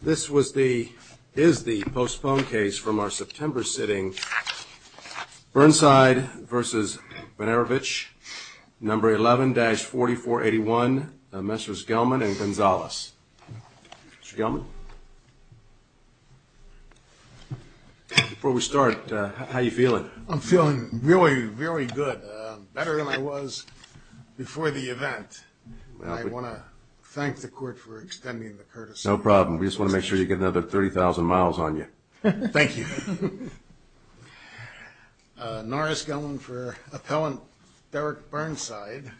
This is the postponed case from our September sitting Burnside v. Wenerowicz, number 11-4481, Messrs. Gelman and Gonzales. Mr. Gelman, before we start, how you feeling? I'm feeling really very good, better than I was before the event. I want to thank the court for extending the courtesy. No problem. We just want to make sure you get another 30,000 miles on you. Thank you. Norris Gelman for appellant Derek Burnside.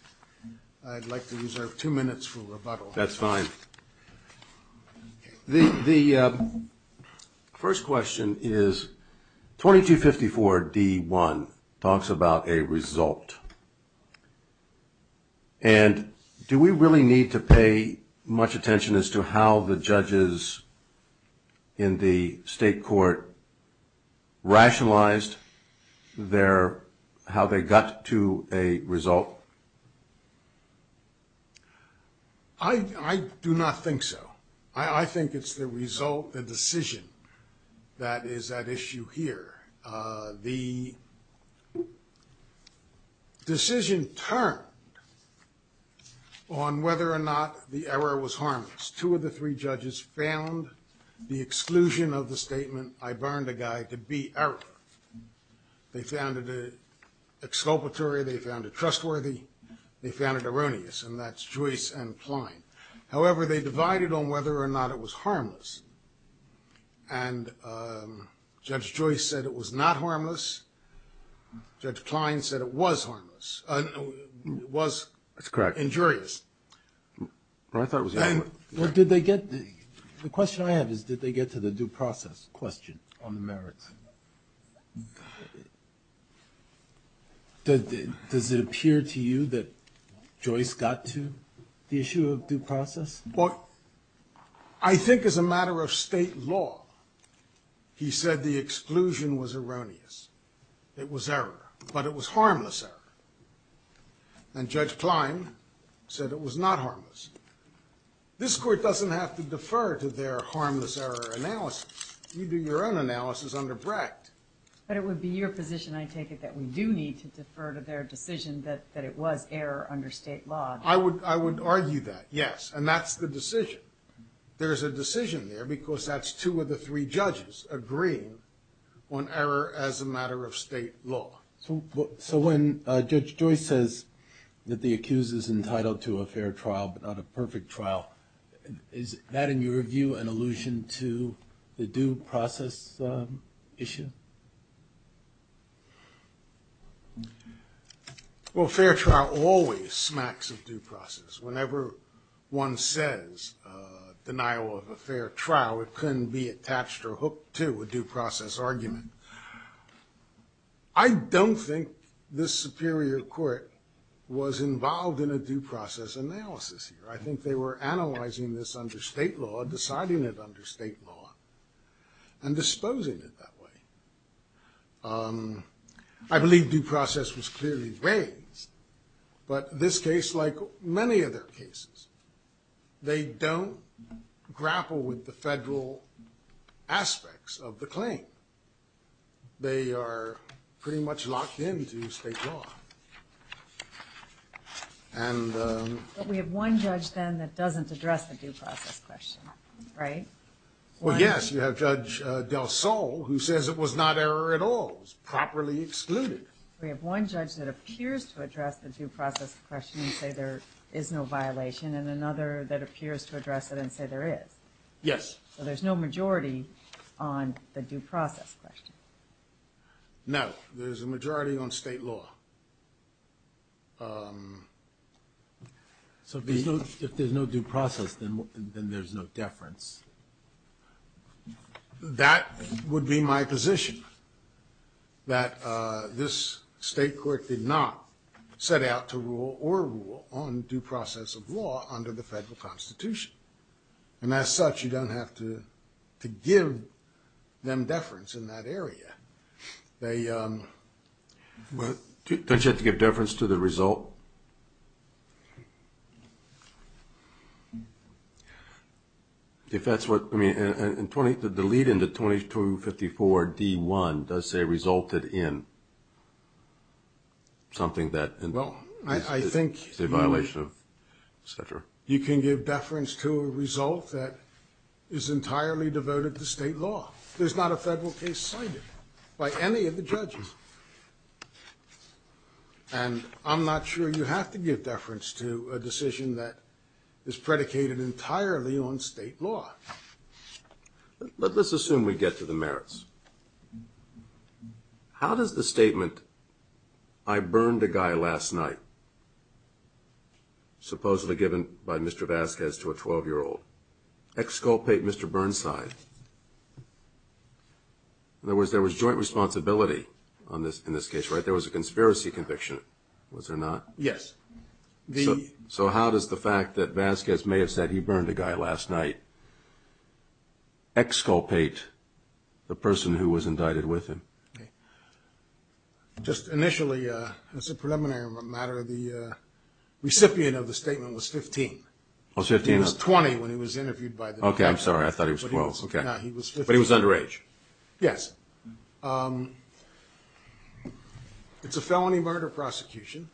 I'd like to reserve two minutes for rebuttal. That's fine. The first question is 2254 D1 talks about a need to pay much attention as to how the judges in the state court rationalized their, how they got to a result? I do not think so. I think it's the result, the decision that is at issue here. The decision turned on whether or not the error was harmless. Two of the three judges found the exclusion of the statement, I burned a guy, to be error. They found it exculpatory. They found it trustworthy. They found it erroneous. And that's Joyce and Klein. However, they divided on whether or not it was harmless. And Judge Joyce said it was not harmless. Judge Klein said it was harmless, was injurious. Well, I thought it was. Well, did they get, the question I have is did they get to the due process question on the merits? Does it appear to you that Joyce got to the issue of due process? Well, I think as a matter of state law, he said the exclusion was erroneous. It was error. But it was harmless error. And Judge Klein said it was not harmless. This court doesn't have to defer to their harmless error analysis. You do your own analysis under Brecht. But it would be your position, I take it, that we do need to defer to their decision that it was error under state law. I would argue that, yes. And that's the decision. There's a decision there because that's two of the three judges agreeing on error as a matter of state law. So when Judge Joyce says that the accused is entitled to a fair trial but not a perfect trial, is that, in your view, an allusion to the due process issue? Well, a fair trial always smacks of due process. Whenever one says denial of a fair trial, it couldn't be attached or hooked to a due process argument. I don't think this superior court was involved in a due process analysis here. I think they were analyzing this under state law, deciding it under state law, and disposing it that way. I believe due process was clearly raised. But this case, like many other cases, they don't grapple with the federal aspects of the claim. They are pretty much locked into state law. But we have one judge, then, that doesn't address the due process question, right? Well, yes. You have Judge Del Sol, who says it was not error at all. It was properly excluded. We have one judge that appears to address the due process question and say there is no violation, and another that appears to address it and say there is. Yes. So there's no majority on the due process question. No. There's a majority on state law. So if there's no due process, then there's no deference. That would be my position, that this state court did not set out to rule or rule on due process of law under the federal constitution. And as such, you don't have to give them deference in that area. Don't you have to give deference to the result? If that's what, I mean, the lead in the 2254 D1 does say resulted in something that is a violation of, et cetera. Well, I think you can give deference to a result that is entirely devoted to state law. There's not a federal case cited by any of the judges. And I'm not sure you have to give deference to a decision that is predicated entirely on state law. Let's assume we get to the merits. How does the statement, I burned a guy last night, supposedly given by Mr. Vasquez to a 12-year-old, exculpate Mr. Burnside? In other words, there was joint responsibility in this case, right? There was a conspiracy conviction. Was there not? Yes. So how does the fact that Vasquez may have said he burned a guy last night exculpate the person who was indicted with him? Just initially, as a preliminary matter, the recipient of the statement was 15. Oh, 15. He was 20 when he was interviewed by the New York Times. I'm sorry. I thought he was 12. But he was underage. Yes. It's a felony murder prosecution.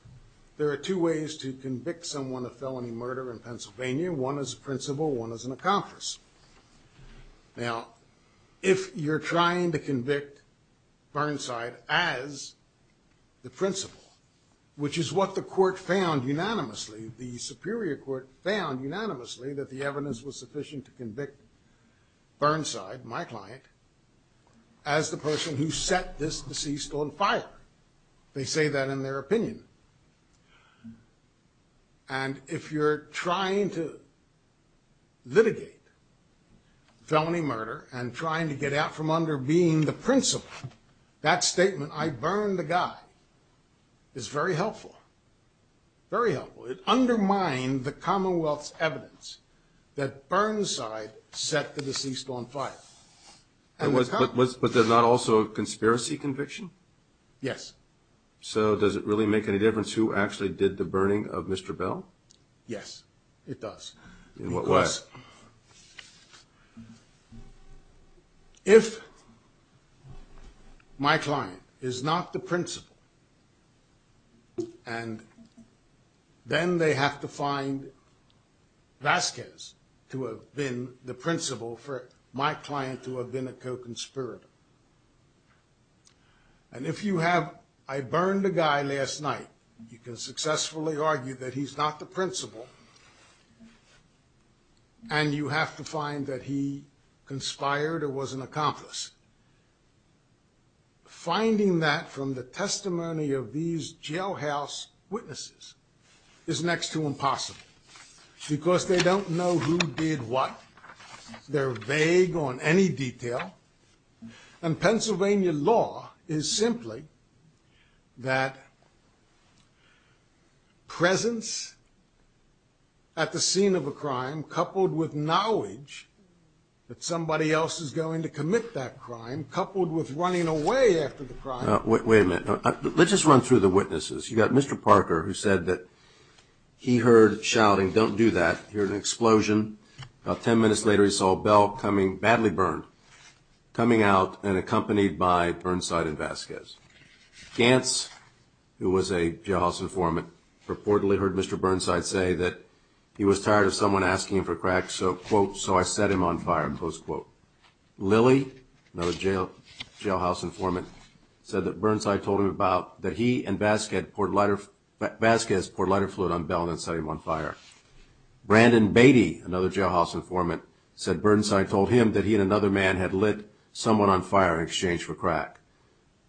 There are two ways to convict someone of felony murder in Pennsylvania. One is a principal. One is an accomplice. Now, if you're trying to convict Burnside as the principal, which is what the court found unanimously, the superior court found unanimously that the evidence was sufficient to convict Burnside, my client, as the person who set this deceased on fire. They say that in their opinion. And if you're trying to litigate felony murder and trying to get out from under being the principal, that statement, I burned a guy, is very helpful, very helpful. It undermined the Commonwealth's evidence that Burnside set the deceased on fire. But there's not also a conspiracy conviction? Yes. So does it really make any difference who actually did the burning of Mr. Bell? Yes, it does. In what way? Yes. If my client is not the principal, and then they have to find Vasquez to have been the principal for my client to have been a co-conspirator. And if you have, I burned a guy last night, you can successfully argue that he's not the principal. And you have to find that he conspired or was an accomplice. Finding that from the testimony of these jailhouse witnesses is next to impossible. Because they don't know who did what. They're vague on any detail. And Pennsylvania law is simply that presence at the scene of a crime coupled with knowledge that somebody else is going to commit that crime, coupled with running away after the crime. Wait a minute. Let's just run through the witnesses. You've got Mr. Parker, who said that he heard shouting, don't do that. He heard an explosion. About ten minutes later, he saw Bell coming, badly burned, coming out and accompanied by Burnside and Vasquez. Gantz, who was a jailhouse informant, reportedly heard Mr. Burnside say that he was tired of someone asking him for crack, so, quote, so I set him on fire, close quote. Lilly, another jailhouse informant, said that Burnside told him about that he and Vasquez poured lighter fluid on Bell and then set him on fire. Brandon Beatty, another jailhouse informant, said Burnside told him that he and another man had lit someone on fire in exchange for crack.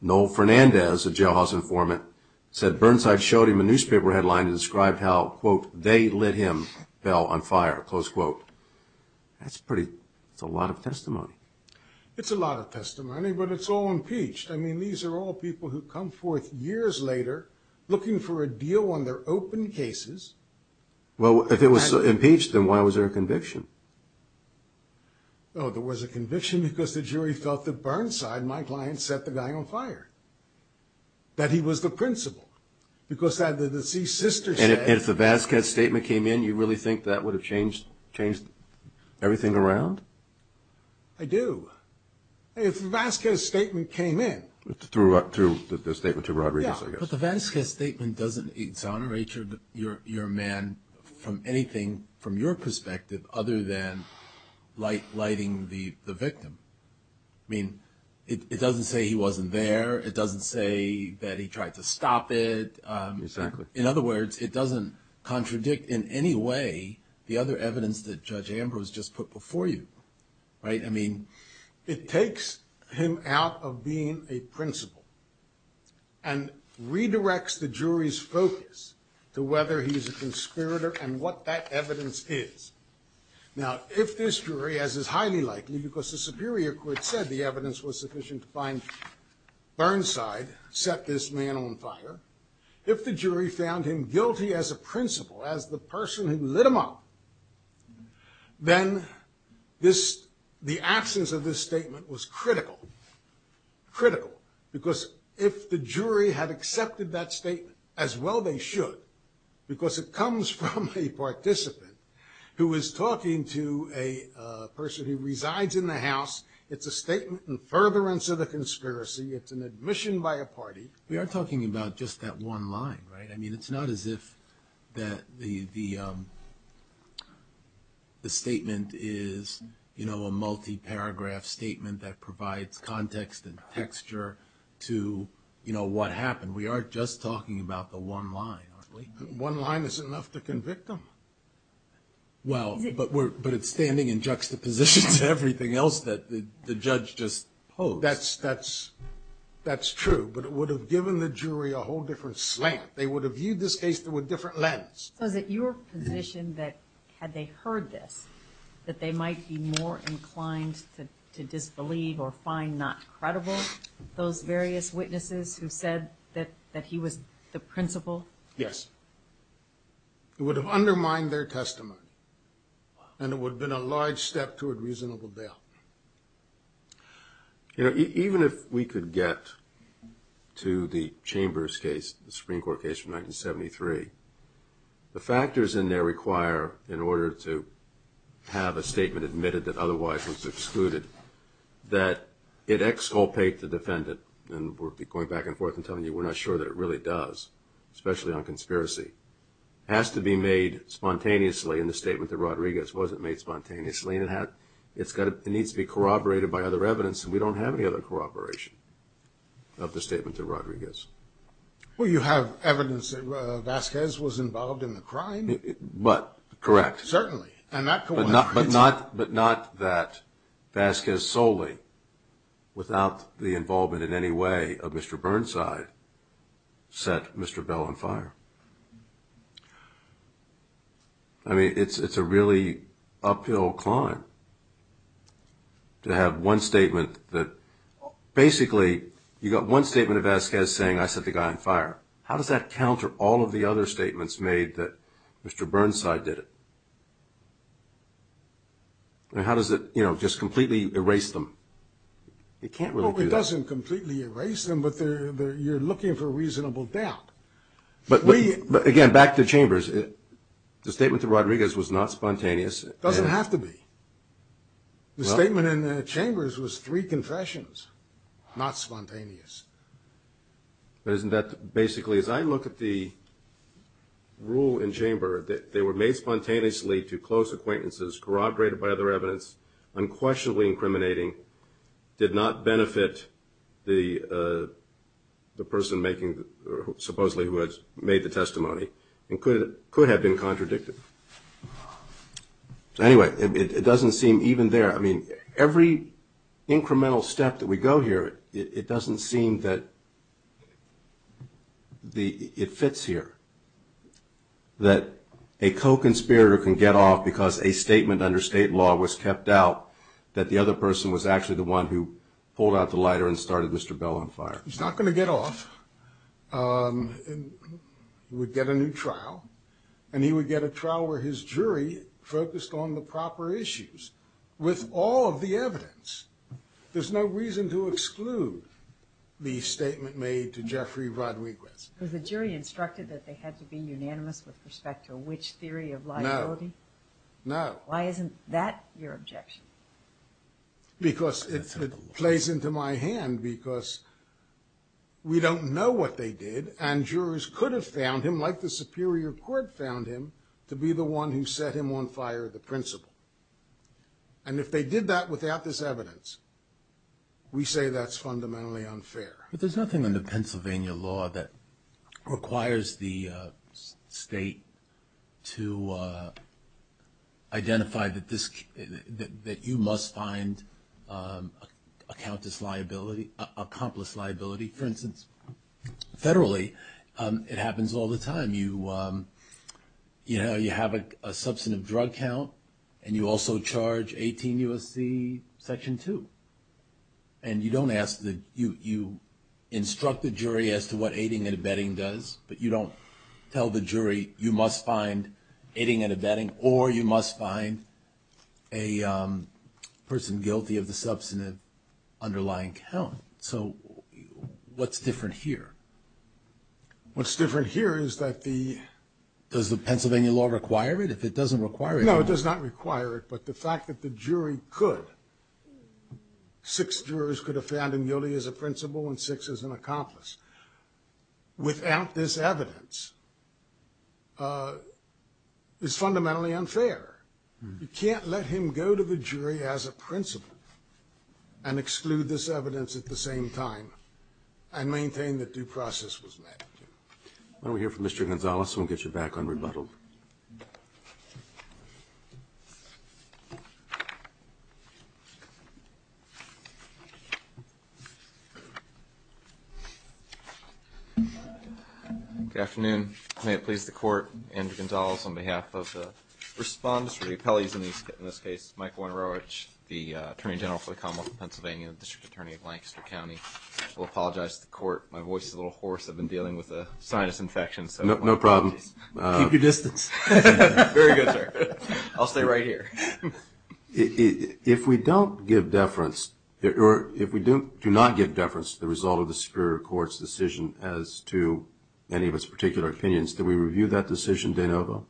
Noel Fernandez, a jailhouse informant, said Burnside showed him a newspaper headline and described how, quote, they lit him, Bell, on fire, close quote. That's pretty, that's a lot of testimony. It's a lot of testimony, but it's all impeached. I mean, these are all people who come forth years later looking for a deal on their open cases. Well, if it was impeached, then why was there a conviction? Oh, there was a conviction because the jury felt that Burnside, my client, set the guy on fire. That he was the principal. Because the deceased sister said. And if the Vasquez statement came in, you really think that would have changed everything around? I do. If the Vasquez statement came in. Through the statement to Rodriguez, I guess. Yeah, but the Vasquez statement doesn't exonerate your man from anything, from your perspective, other than lighting the victim. I mean, it doesn't say he wasn't there. It doesn't say that he tried to stop it. Exactly. In other words, it doesn't contradict in any way the other evidence that Judge Ambrose just put before you. Right? I mean, it takes him out of being a principal. And redirects the jury's focus to whether he's a conspirator and what that evidence is. Now, if this jury, as is highly likely, because the Superior Court said the evidence was sufficient to find Burnside, set this man on fire. If the jury found him guilty as a principal, as the person who lit him up. Then the absence of this statement was critical. Critical. Because if the jury had accepted that statement, as well they should. Because it comes from a participant who is talking to a person who resides in the house. It's a statement in furtherance of the conspiracy. It's an admission by a party. We are talking about just that one line, right? I mean, it's not as if the statement is a multi-paragraph statement that provides context and texture to what happened. We are just talking about the one line, aren't we? One line isn't enough to convict him. Well, but it's standing in juxtaposition to everything else that the judge just posed. That's true. But it would have given the jury a whole different slant. They would have viewed this case through a different lens. So is it your position that had they heard this, that they might be more inclined to disbelieve or find not credible those various witnesses who said that he was the principal? Yes. It would have undermined their testimony. And it would have been a large step toward reasonable bail. You know, even if we could get to the Chambers case, the Supreme Court case from 1973, the factors in there require, in order to have a statement admitted that otherwise was excluded, that it exculpate the defendant. And we'll be going back and forth and telling you we're not sure that it really does, especially on conspiracy. It has to be made spontaneously in the statement that Rodriguez wasn't made spontaneously. It needs to be corroborated by other evidence, and we don't have any other corroboration of the statement that Rodriguez. Well, you have evidence that Vasquez was involved in the crime. But, correct. Certainly. But not that Vasquez solely, without the involvement in any way of Mr. Burnside, set Mr. Bell on fire. I mean, it's a really uphill climb to have one statement that, basically, you got one statement of Vasquez saying, I set the guy on fire. How does that counter all of the other statements made that Mr. Burnside did it? I mean, how does it, you know, just completely erase them? It can't really do that. Well, it doesn't completely erase them, but you're looking for reasonable doubt. But, again, back to Chambers. The statement to Rodriguez was not spontaneous. It doesn't have to be. The statement in Chambers was three confessions, not spontaneous. But isn't that, basically, as I look at the rule in Chamber, that they were made spontaneously to close acquaintances, corroborated by other evidence, unquestionably incriminating, did not benefit the person supposedly who had made the testimony, and could have been contradicted? Anyway, it doesn't seem even there. I mean, every incremental step that we go here, it doesn't seem that it fits here, that a co-conspirator can get off because a statement under state law was kept out, that the other person was actually the one who pulled out the lighter and started Mr. Bell on fire. He's not going to get off. He would get a new trial, and he would get a trial where his jury focused on the proper issues, with all of the evidence. There's no reason to exclude the statement made to Jeffrey Rodriguez. Because the jury instructed that they had to be unanimous with respect to which theory of liability? No, no. Why isn't that your objection? Because it plays into my hand, because we don't know what they did, and jurors could have found him, like the Superior Court found him, to be the one who set him on fire, the principal. And if they did that without this evidence, we say that's fundamentally unfair. But there's nothing under Pennsylvania law that requires the state to identify that you must find a countess liability, an accomplice liability. For instance, federally, it happens all the time. You have a substantive drug count, and you also charge 18 U.S.C. Section 2. And you instruct the jury as to what aiding and abetting does, but you don't tell the jury you must find aiding and abetting, or you must find a person guilty of the substantive underlying count. So what's different here? What's different here is that the... Does the Pennsylvania law require it? If it doesn't require it... Six jurors could have found him guilty as a principal and six as an accomplice. Without this evidence, it's fundamentally unfair. You can't let him go to the jury as a principal and exclude this evidence at the same time and maintain that due process was met. Why don't we hear from Mr. Gonzales, and we'll get you back on rebuttal. Good afternoon. May it please the Court, Andrew Gonzales, on behalf of the respondents, or the appellees in this case, Mike Wojnarowicz, the Attorney General for the Commonwealth of Pennsylvania, District Attorney of Lancaster County. I'll apologize to the Court. My voice is a little hoarse. I've been dealing with a sinus infection. No problem. Keep your distance. Very good, sir. I'll stay right here. If we don't give deference, or if we do not give deference to the result of the Superior Court's decision as to any of its particular opinions, do we review that decision de novo?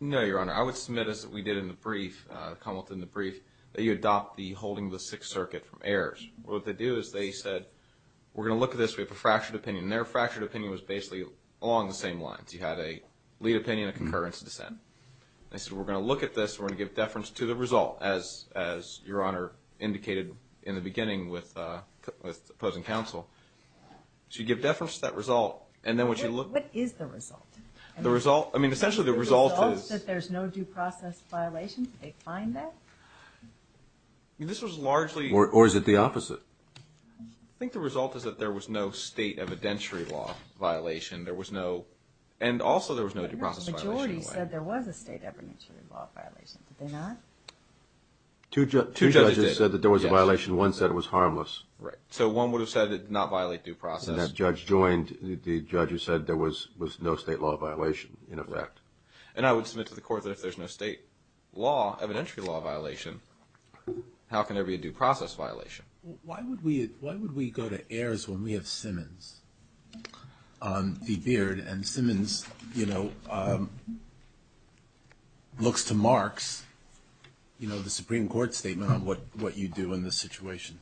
No, Your Honor. I would submit, as we did in the brief, the Commonwealth in the brief, that you adopt the holding of the Sixth Circuit from errors. What they do is they said, we're going to look at this. We have a fractured opinion. And their fractured opinion was basically along the same lines. You had a lead opinion, a concurrence, a dissent. They said, we're going to look at this, and we're going to give deference to the result, as Your Honor indicated in the beginning with opposing counsel. So you give deference to that result, and then what you look at is the result. I mean, essentially, the result is that there's no due process violation. They find that. I mean, this was largely... Or is it the opposite? I think the result is that there was no state evidentiary law violation. There was no... And also there was no due process violation. The majority said there was a state evidentiary law violation. Did they not? Two judges said that there was a violation. One said it was harmless. So one would have said not violate due process. And that judge joined. The judge who said there was no state law violation, in effect. And I would submit to the court that if there's no state law, evidentiary law violation, how can there be a due process violation? Why would we go to Ayers when we have Simmons on the beard? And Simmons, you know, looks to Marx, you know, the Supreme Court statement, on what you do in this situation.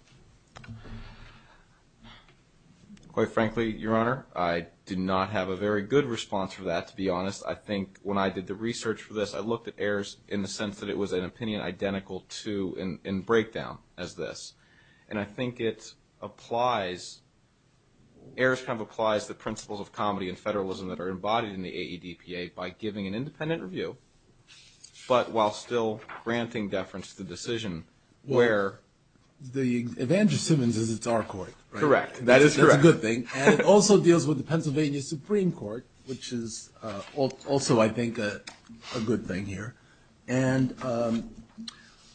Quite frankly, Your Honor, I do not have a very good response for that, to be honest. I think when I did the research for this, I looked at Ayers in the sense that it was an opinion identical to and breakdown as this. And I think it applies... Ayers kind of applies the principles of comedy and federalism that are embodied in the AEDPA by giving an independent review but while still granting deference to the decision where... If Andrew Simmons is, it's our court. Correct. That is correct. That's a good thing. And it also deals with the Pennsylvania Supreme Court, which is also, I think, a good thing here. And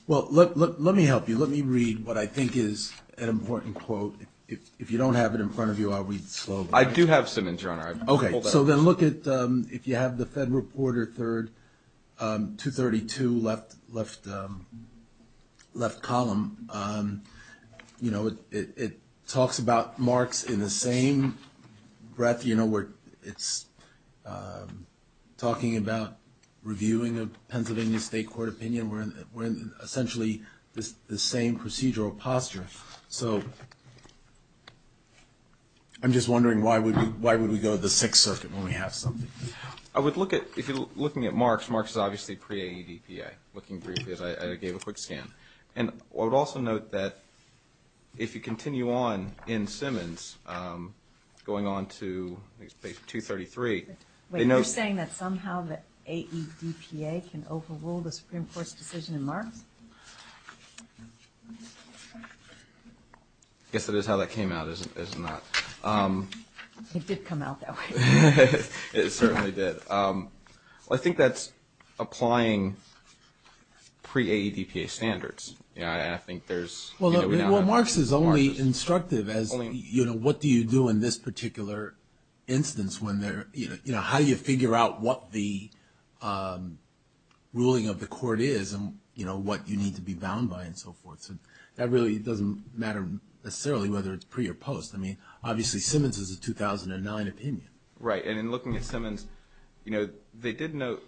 well, let me help you. Let me read what I think is an important quote. If you don't have it in front of you, I'll read it slowly. I do have Simmons, Your Honor. Okay, so then look at if you have the Fed Reporter 3rd, 232, left column. It talks about Marx in the same breath. It's talking about reviewing a Pennsylvania state court opinion. We're in essentially the same procedural posture. So I'm just wondering why would we go to the Sixth Circuit when we have something. If you're looking at Marx, Marx is obviously pre-AEDPA. Looking briefly at it, I gave a quick scan. And I would also note that if you continue on in Simmons going on to page 233... Wait, you're saying that somehow the AEDPA can overrule the Supreme Court's decision in Marx? I guess that is how that came out, isn't it? It did come out that way. It certainly did. I think that's applying pre-AEDPA standards. I think there's... Well, Marx is only instructive as what do you do in this particular instance when there... How do you figure out what the ruling of the court is and what you need to be bound by and so forth. That really doesn't matter necessarily whether it's pre or post. I mean, obviously, Simmons is a 2009 opinion. Right. And in looking at Simmons, they did note...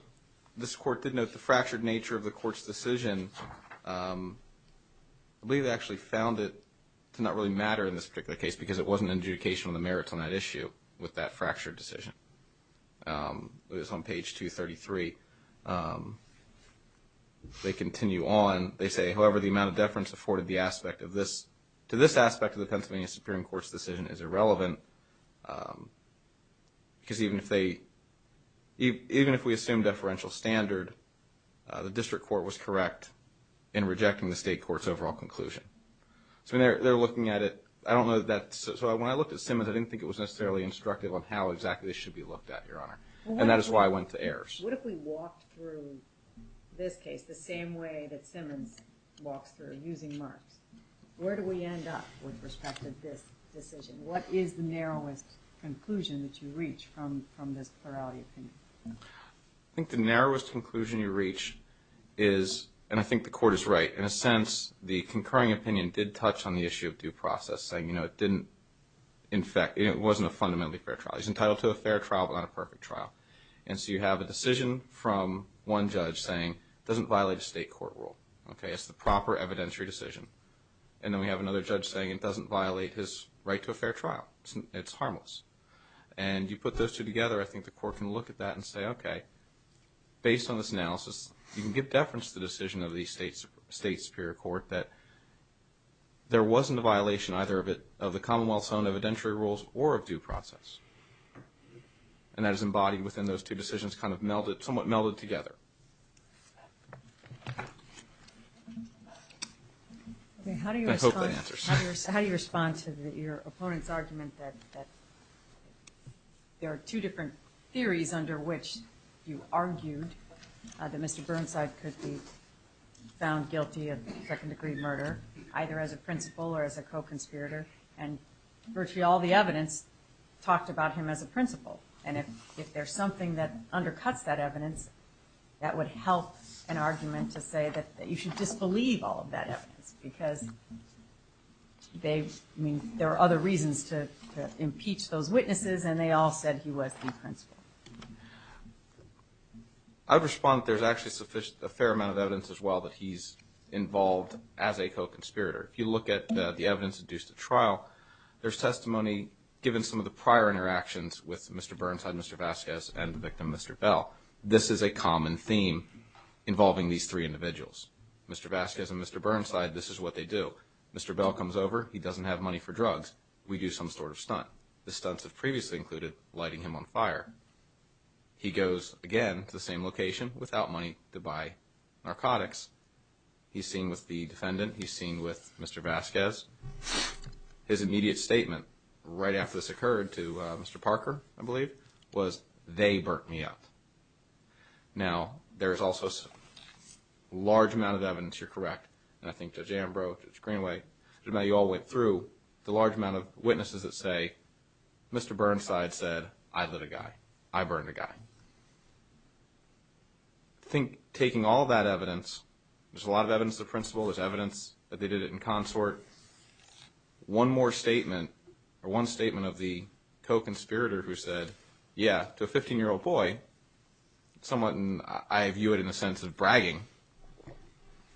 This court did note the fractured nature of the court's decision. I believe they actually found it to not really matter in this particular case because it wasn't an adjudication of the merits on that issue with that fractured decision. It was on page 233. They continue on. They say, however, the amount of deference afforded to this aspect of the Pennsylvania Supreme Court's decision is irrelevant. Because even if they... even if we assume deferential standard, the district court was correct in rejecting the state court's overall conclusion. So they're looking at it. I don't know that... So when I looked at Simmons, I didn't think it was necessarily instructive on how exactly this should be looked at, Your Honor. And that is why I went to Ayers. What if we walked through this case the same way that Simmons walks through, using Marx? Where do we end up with respect to this decision? What is the narrowest conclusion that you reach from this plurality opinion? I think the narrowest conclusion you reach is, and I think the court is right, in a sense the concurring opinion did touch on the issue of due process, saying, you know, it didn't... in fact, it wasn't a fundamentally fair trial. He's entitled to a fair trial but not a perfect trial. And so you have a decision from one judge saying it doesn't violate a state court rule. Okay? It's the proper evidentiary decision. And then we have another judge saying it doesn't violate his right to a fair trial. It's harmless. And you put those two together, I think the court can look at that and say, okay, based on this analysis, you can give deference to the decision of the state superior court that there wasn't a violation, either of the commonwealth's own evidentiary rules or of due process. And that is embodied within those two decisions, kind of somewhat melded together. I hope that answers. How do you respond to your opponent's argument that there are two different theories under which you argued that Mr. Burnside could be found guilty of second-degree murder, either as a principal or as a co-conspirator, and virtually all the evidence talked about him as a principal? And if there's something that undercuts that evidence, that would help an argument to say that you should disbelieve all of that evidence because there are other reasons to impeach those witnesses, and they all said he was the principal. I would respond that there's actually a fair amount of evidence as well that he's involved as a co-conspirator. If you look at the evidence induced at trial, there's testimony given some of the prior interactions with Mr. Burnside, Mr. Vasquez, and the victim, Mr. Bell. This is a common theme involving these three individuals. Mr. Vasquez and Mr. Burnside, this is what they do. Mr. Bell comes over. He doesn't have money for drugs. We do some sort of stunt. The stunts have previously included lighting him on fire. He goes, again, to the same location without money to buy narcotics. He's seen with the defendant. He's seen with Mr. Vasquez. His immediate statement right after this occurred to Mr. Parker, I believe, was, they burnt me up. Now, there's also a large amount of evidence, you're correct, and I think Judge Ambrose, Judge Greenway, you all went through the large amount of witnesses that say, Mr. Burnside said, I lit a guy. I burned a guy. I think taking all that evidence, there's a lot of evidence of principle. There's evidence that they did it in consort. One more statement, or one statement of the co-conspirator who said, yeah, to a 15-year-old boy, somewhat, and I view it in a sense of bragging,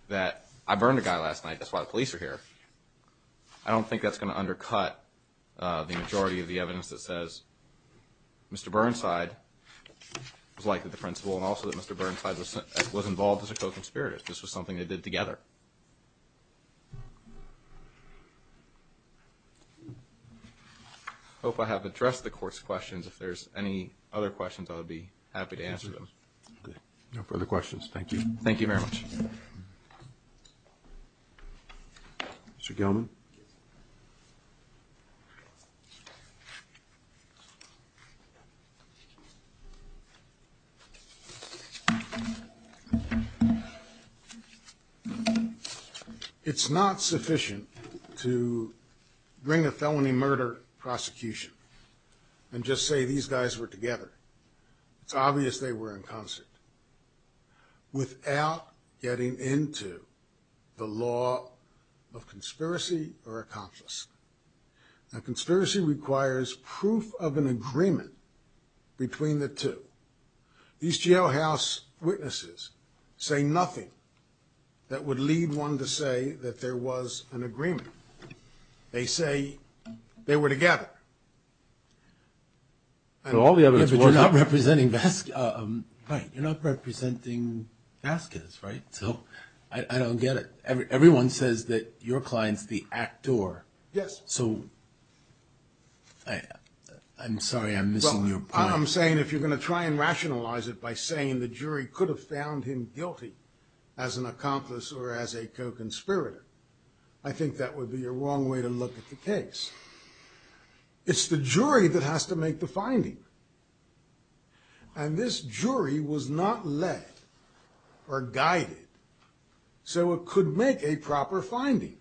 that I burned a guy last night. That's why the police are here. I don't think that's going to undercut the majority of the evidence that says, Mr. Burnside was likely the principal, and also that Mr. Burnside was involved as a co-conspirator. This was something they did together. I hope I have addressed the court's questions. If there's any other questions, I would be happy to answer them. Okay. No further questions. Thank you. Thank you very much. Mr. Gelman. It's not sufficient to bring a felony murder prosecution and just say these guys were together. It's obvious they were in consort. Without getting into the law of conspiracy or accomplice. Now, conspiracy requires proof of an agreement between the two. These jailhouse witnesses say nothing that would lead one to say that there was an agreement. They say they were together. You're not representing Vasquez, right? I don't get it. Everyone says that your client's the actor. Yes. I'm sorry. I'm missing your point. I'm saying if you're going to try and rationalize it by saying the jury could have found him guilty as an accomplice or as a co-conspirator, I think that would be a wrong way to look at the case. It's the jury that has to make the finding. And this jury was not led or guided so it could make a proper finding.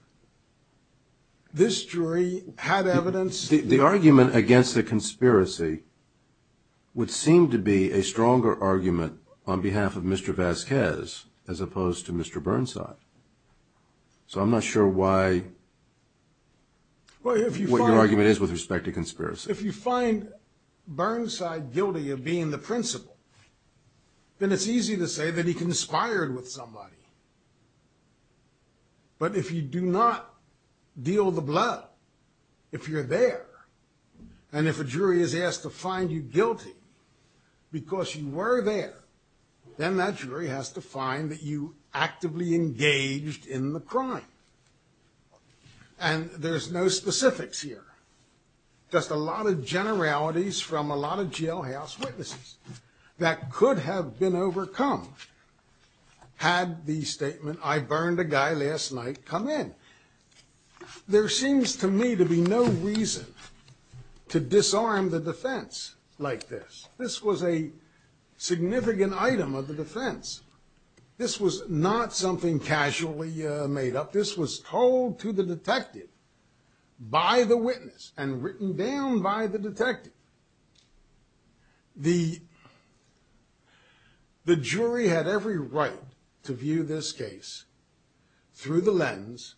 This jury had evidence. The argument against the conspiracy would seem to be a stronger argument on behalf of Mr. Vasquez as opposed to Mr. Burnside. So I'm not sure what your argument is with respect to conspiracy. If you find Burnside guilty of being the principal, then it's easy to say that he conspired with somebody. But if you do not deal the blood, if you're there, and if a jury has asked to find you guilty because you were there, then that jury has to find that you actively engaged in the crime. And there's no specifics here. Just a lot of generalities from a lot of jailhouse witnesses that could have been overcome had the statement, I burned a guy last night, come in. There seems to me to be no reason to disarm the defense like this. This was a significant item of the defense. This was not something casually made up. This was told to the detective by the witness and written down by the detective. The jury had every right to view this case through the lens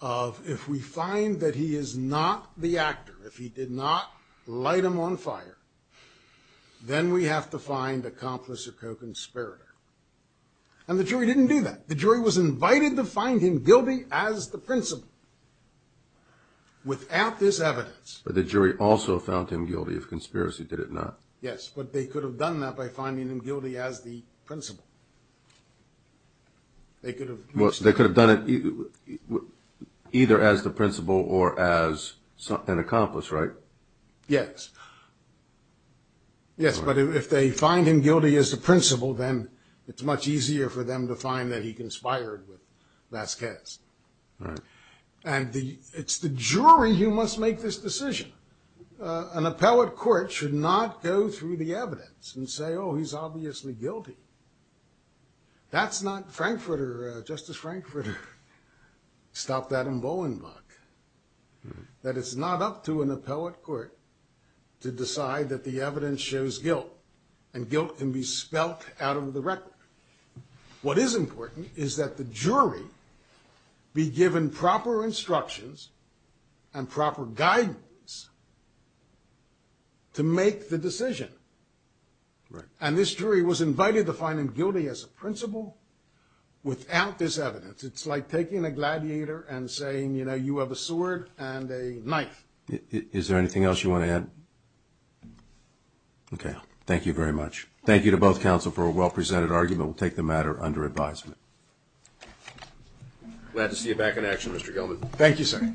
of But if we find that he is not the actor, if he did not light him on fire, then we have to find accomplice or co-conspirator. And the jury didn't do that. The jury was invited to find him guilty as the principal without this evidence. But the jury also found him guilty if conspiracy did it not. Yes, but they could have done that by finding him guilty as the principal. They could have. They could have done it either as the principal or as an accomplice, right? Yes. Yes, but if they find him guilty as the principal, then it's much easier for them to find that he conspired with Vasquez. Right. And it's the jury who must make this decision. An appellate court should not go through the evidence and say, oh, he's obviously guilty. That's not Frankfurter, Justice Frankfurter. Stop that in Bolenbach. That it's not up to an appellate court to decide that the evidence shows guilt, and guilt can be spelt out of the record. What is important is that the jury be given proper instructions and proper guidance to make the decision. Right. And this jury was invited to find him guilty as a principal without this evidence. It's like taking a gladiator and saying, you know, you have a sword and a knife. Is there anything else you want to add? Okay. Thank you very much. Thank you to both counsel for a well-presented argument. We'll take the matter under advisement. Glad to see you back in action, Mr. Gelman. Thank you, sir. Thank you.